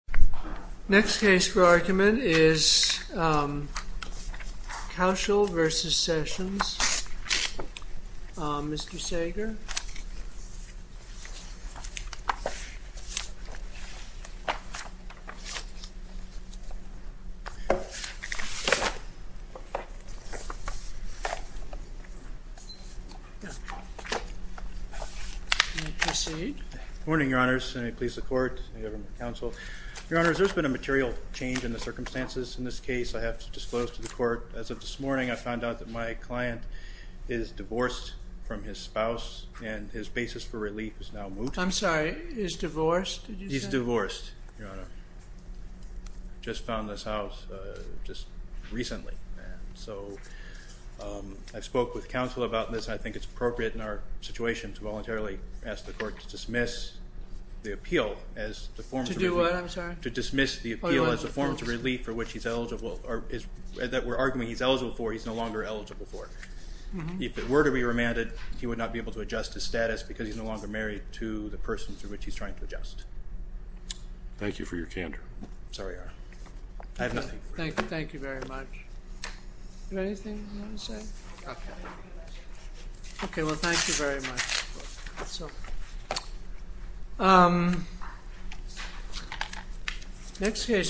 Next case for argument is Coushel v. Sessions. Mr. Sager. Mr. Sager Good morning, your honors. Let me please the court and government counsel. Your honors, there's been a material change in the circumstances in this case I have to disclose to the court. As of this morning, I found out that my client is divorced from his spouse and his basis for relief is now moot. I'm sorry, he's divorced? He's divorced, your honor. Just found this house just recently. So I spoke with counsel about this. I think it's appropriate in our situation to voluntarily ask the court to dismiss the appeal as the form of relief. To do what, I'm sorry? To dismiss the appeal as a form of relief for which he's eligible or that we're arguing he's eligible for, he's no longer eligible for. If it were to be remanded, he would not be able to adjust his status because he's no longer married to the person through which he's trying to adjust. Thank you for your candor. I'm sorry, your honor. I have nothing. Thank you. Thank you very much. Do you have anything you want to say? Okay. Well, thank you very much. Next case.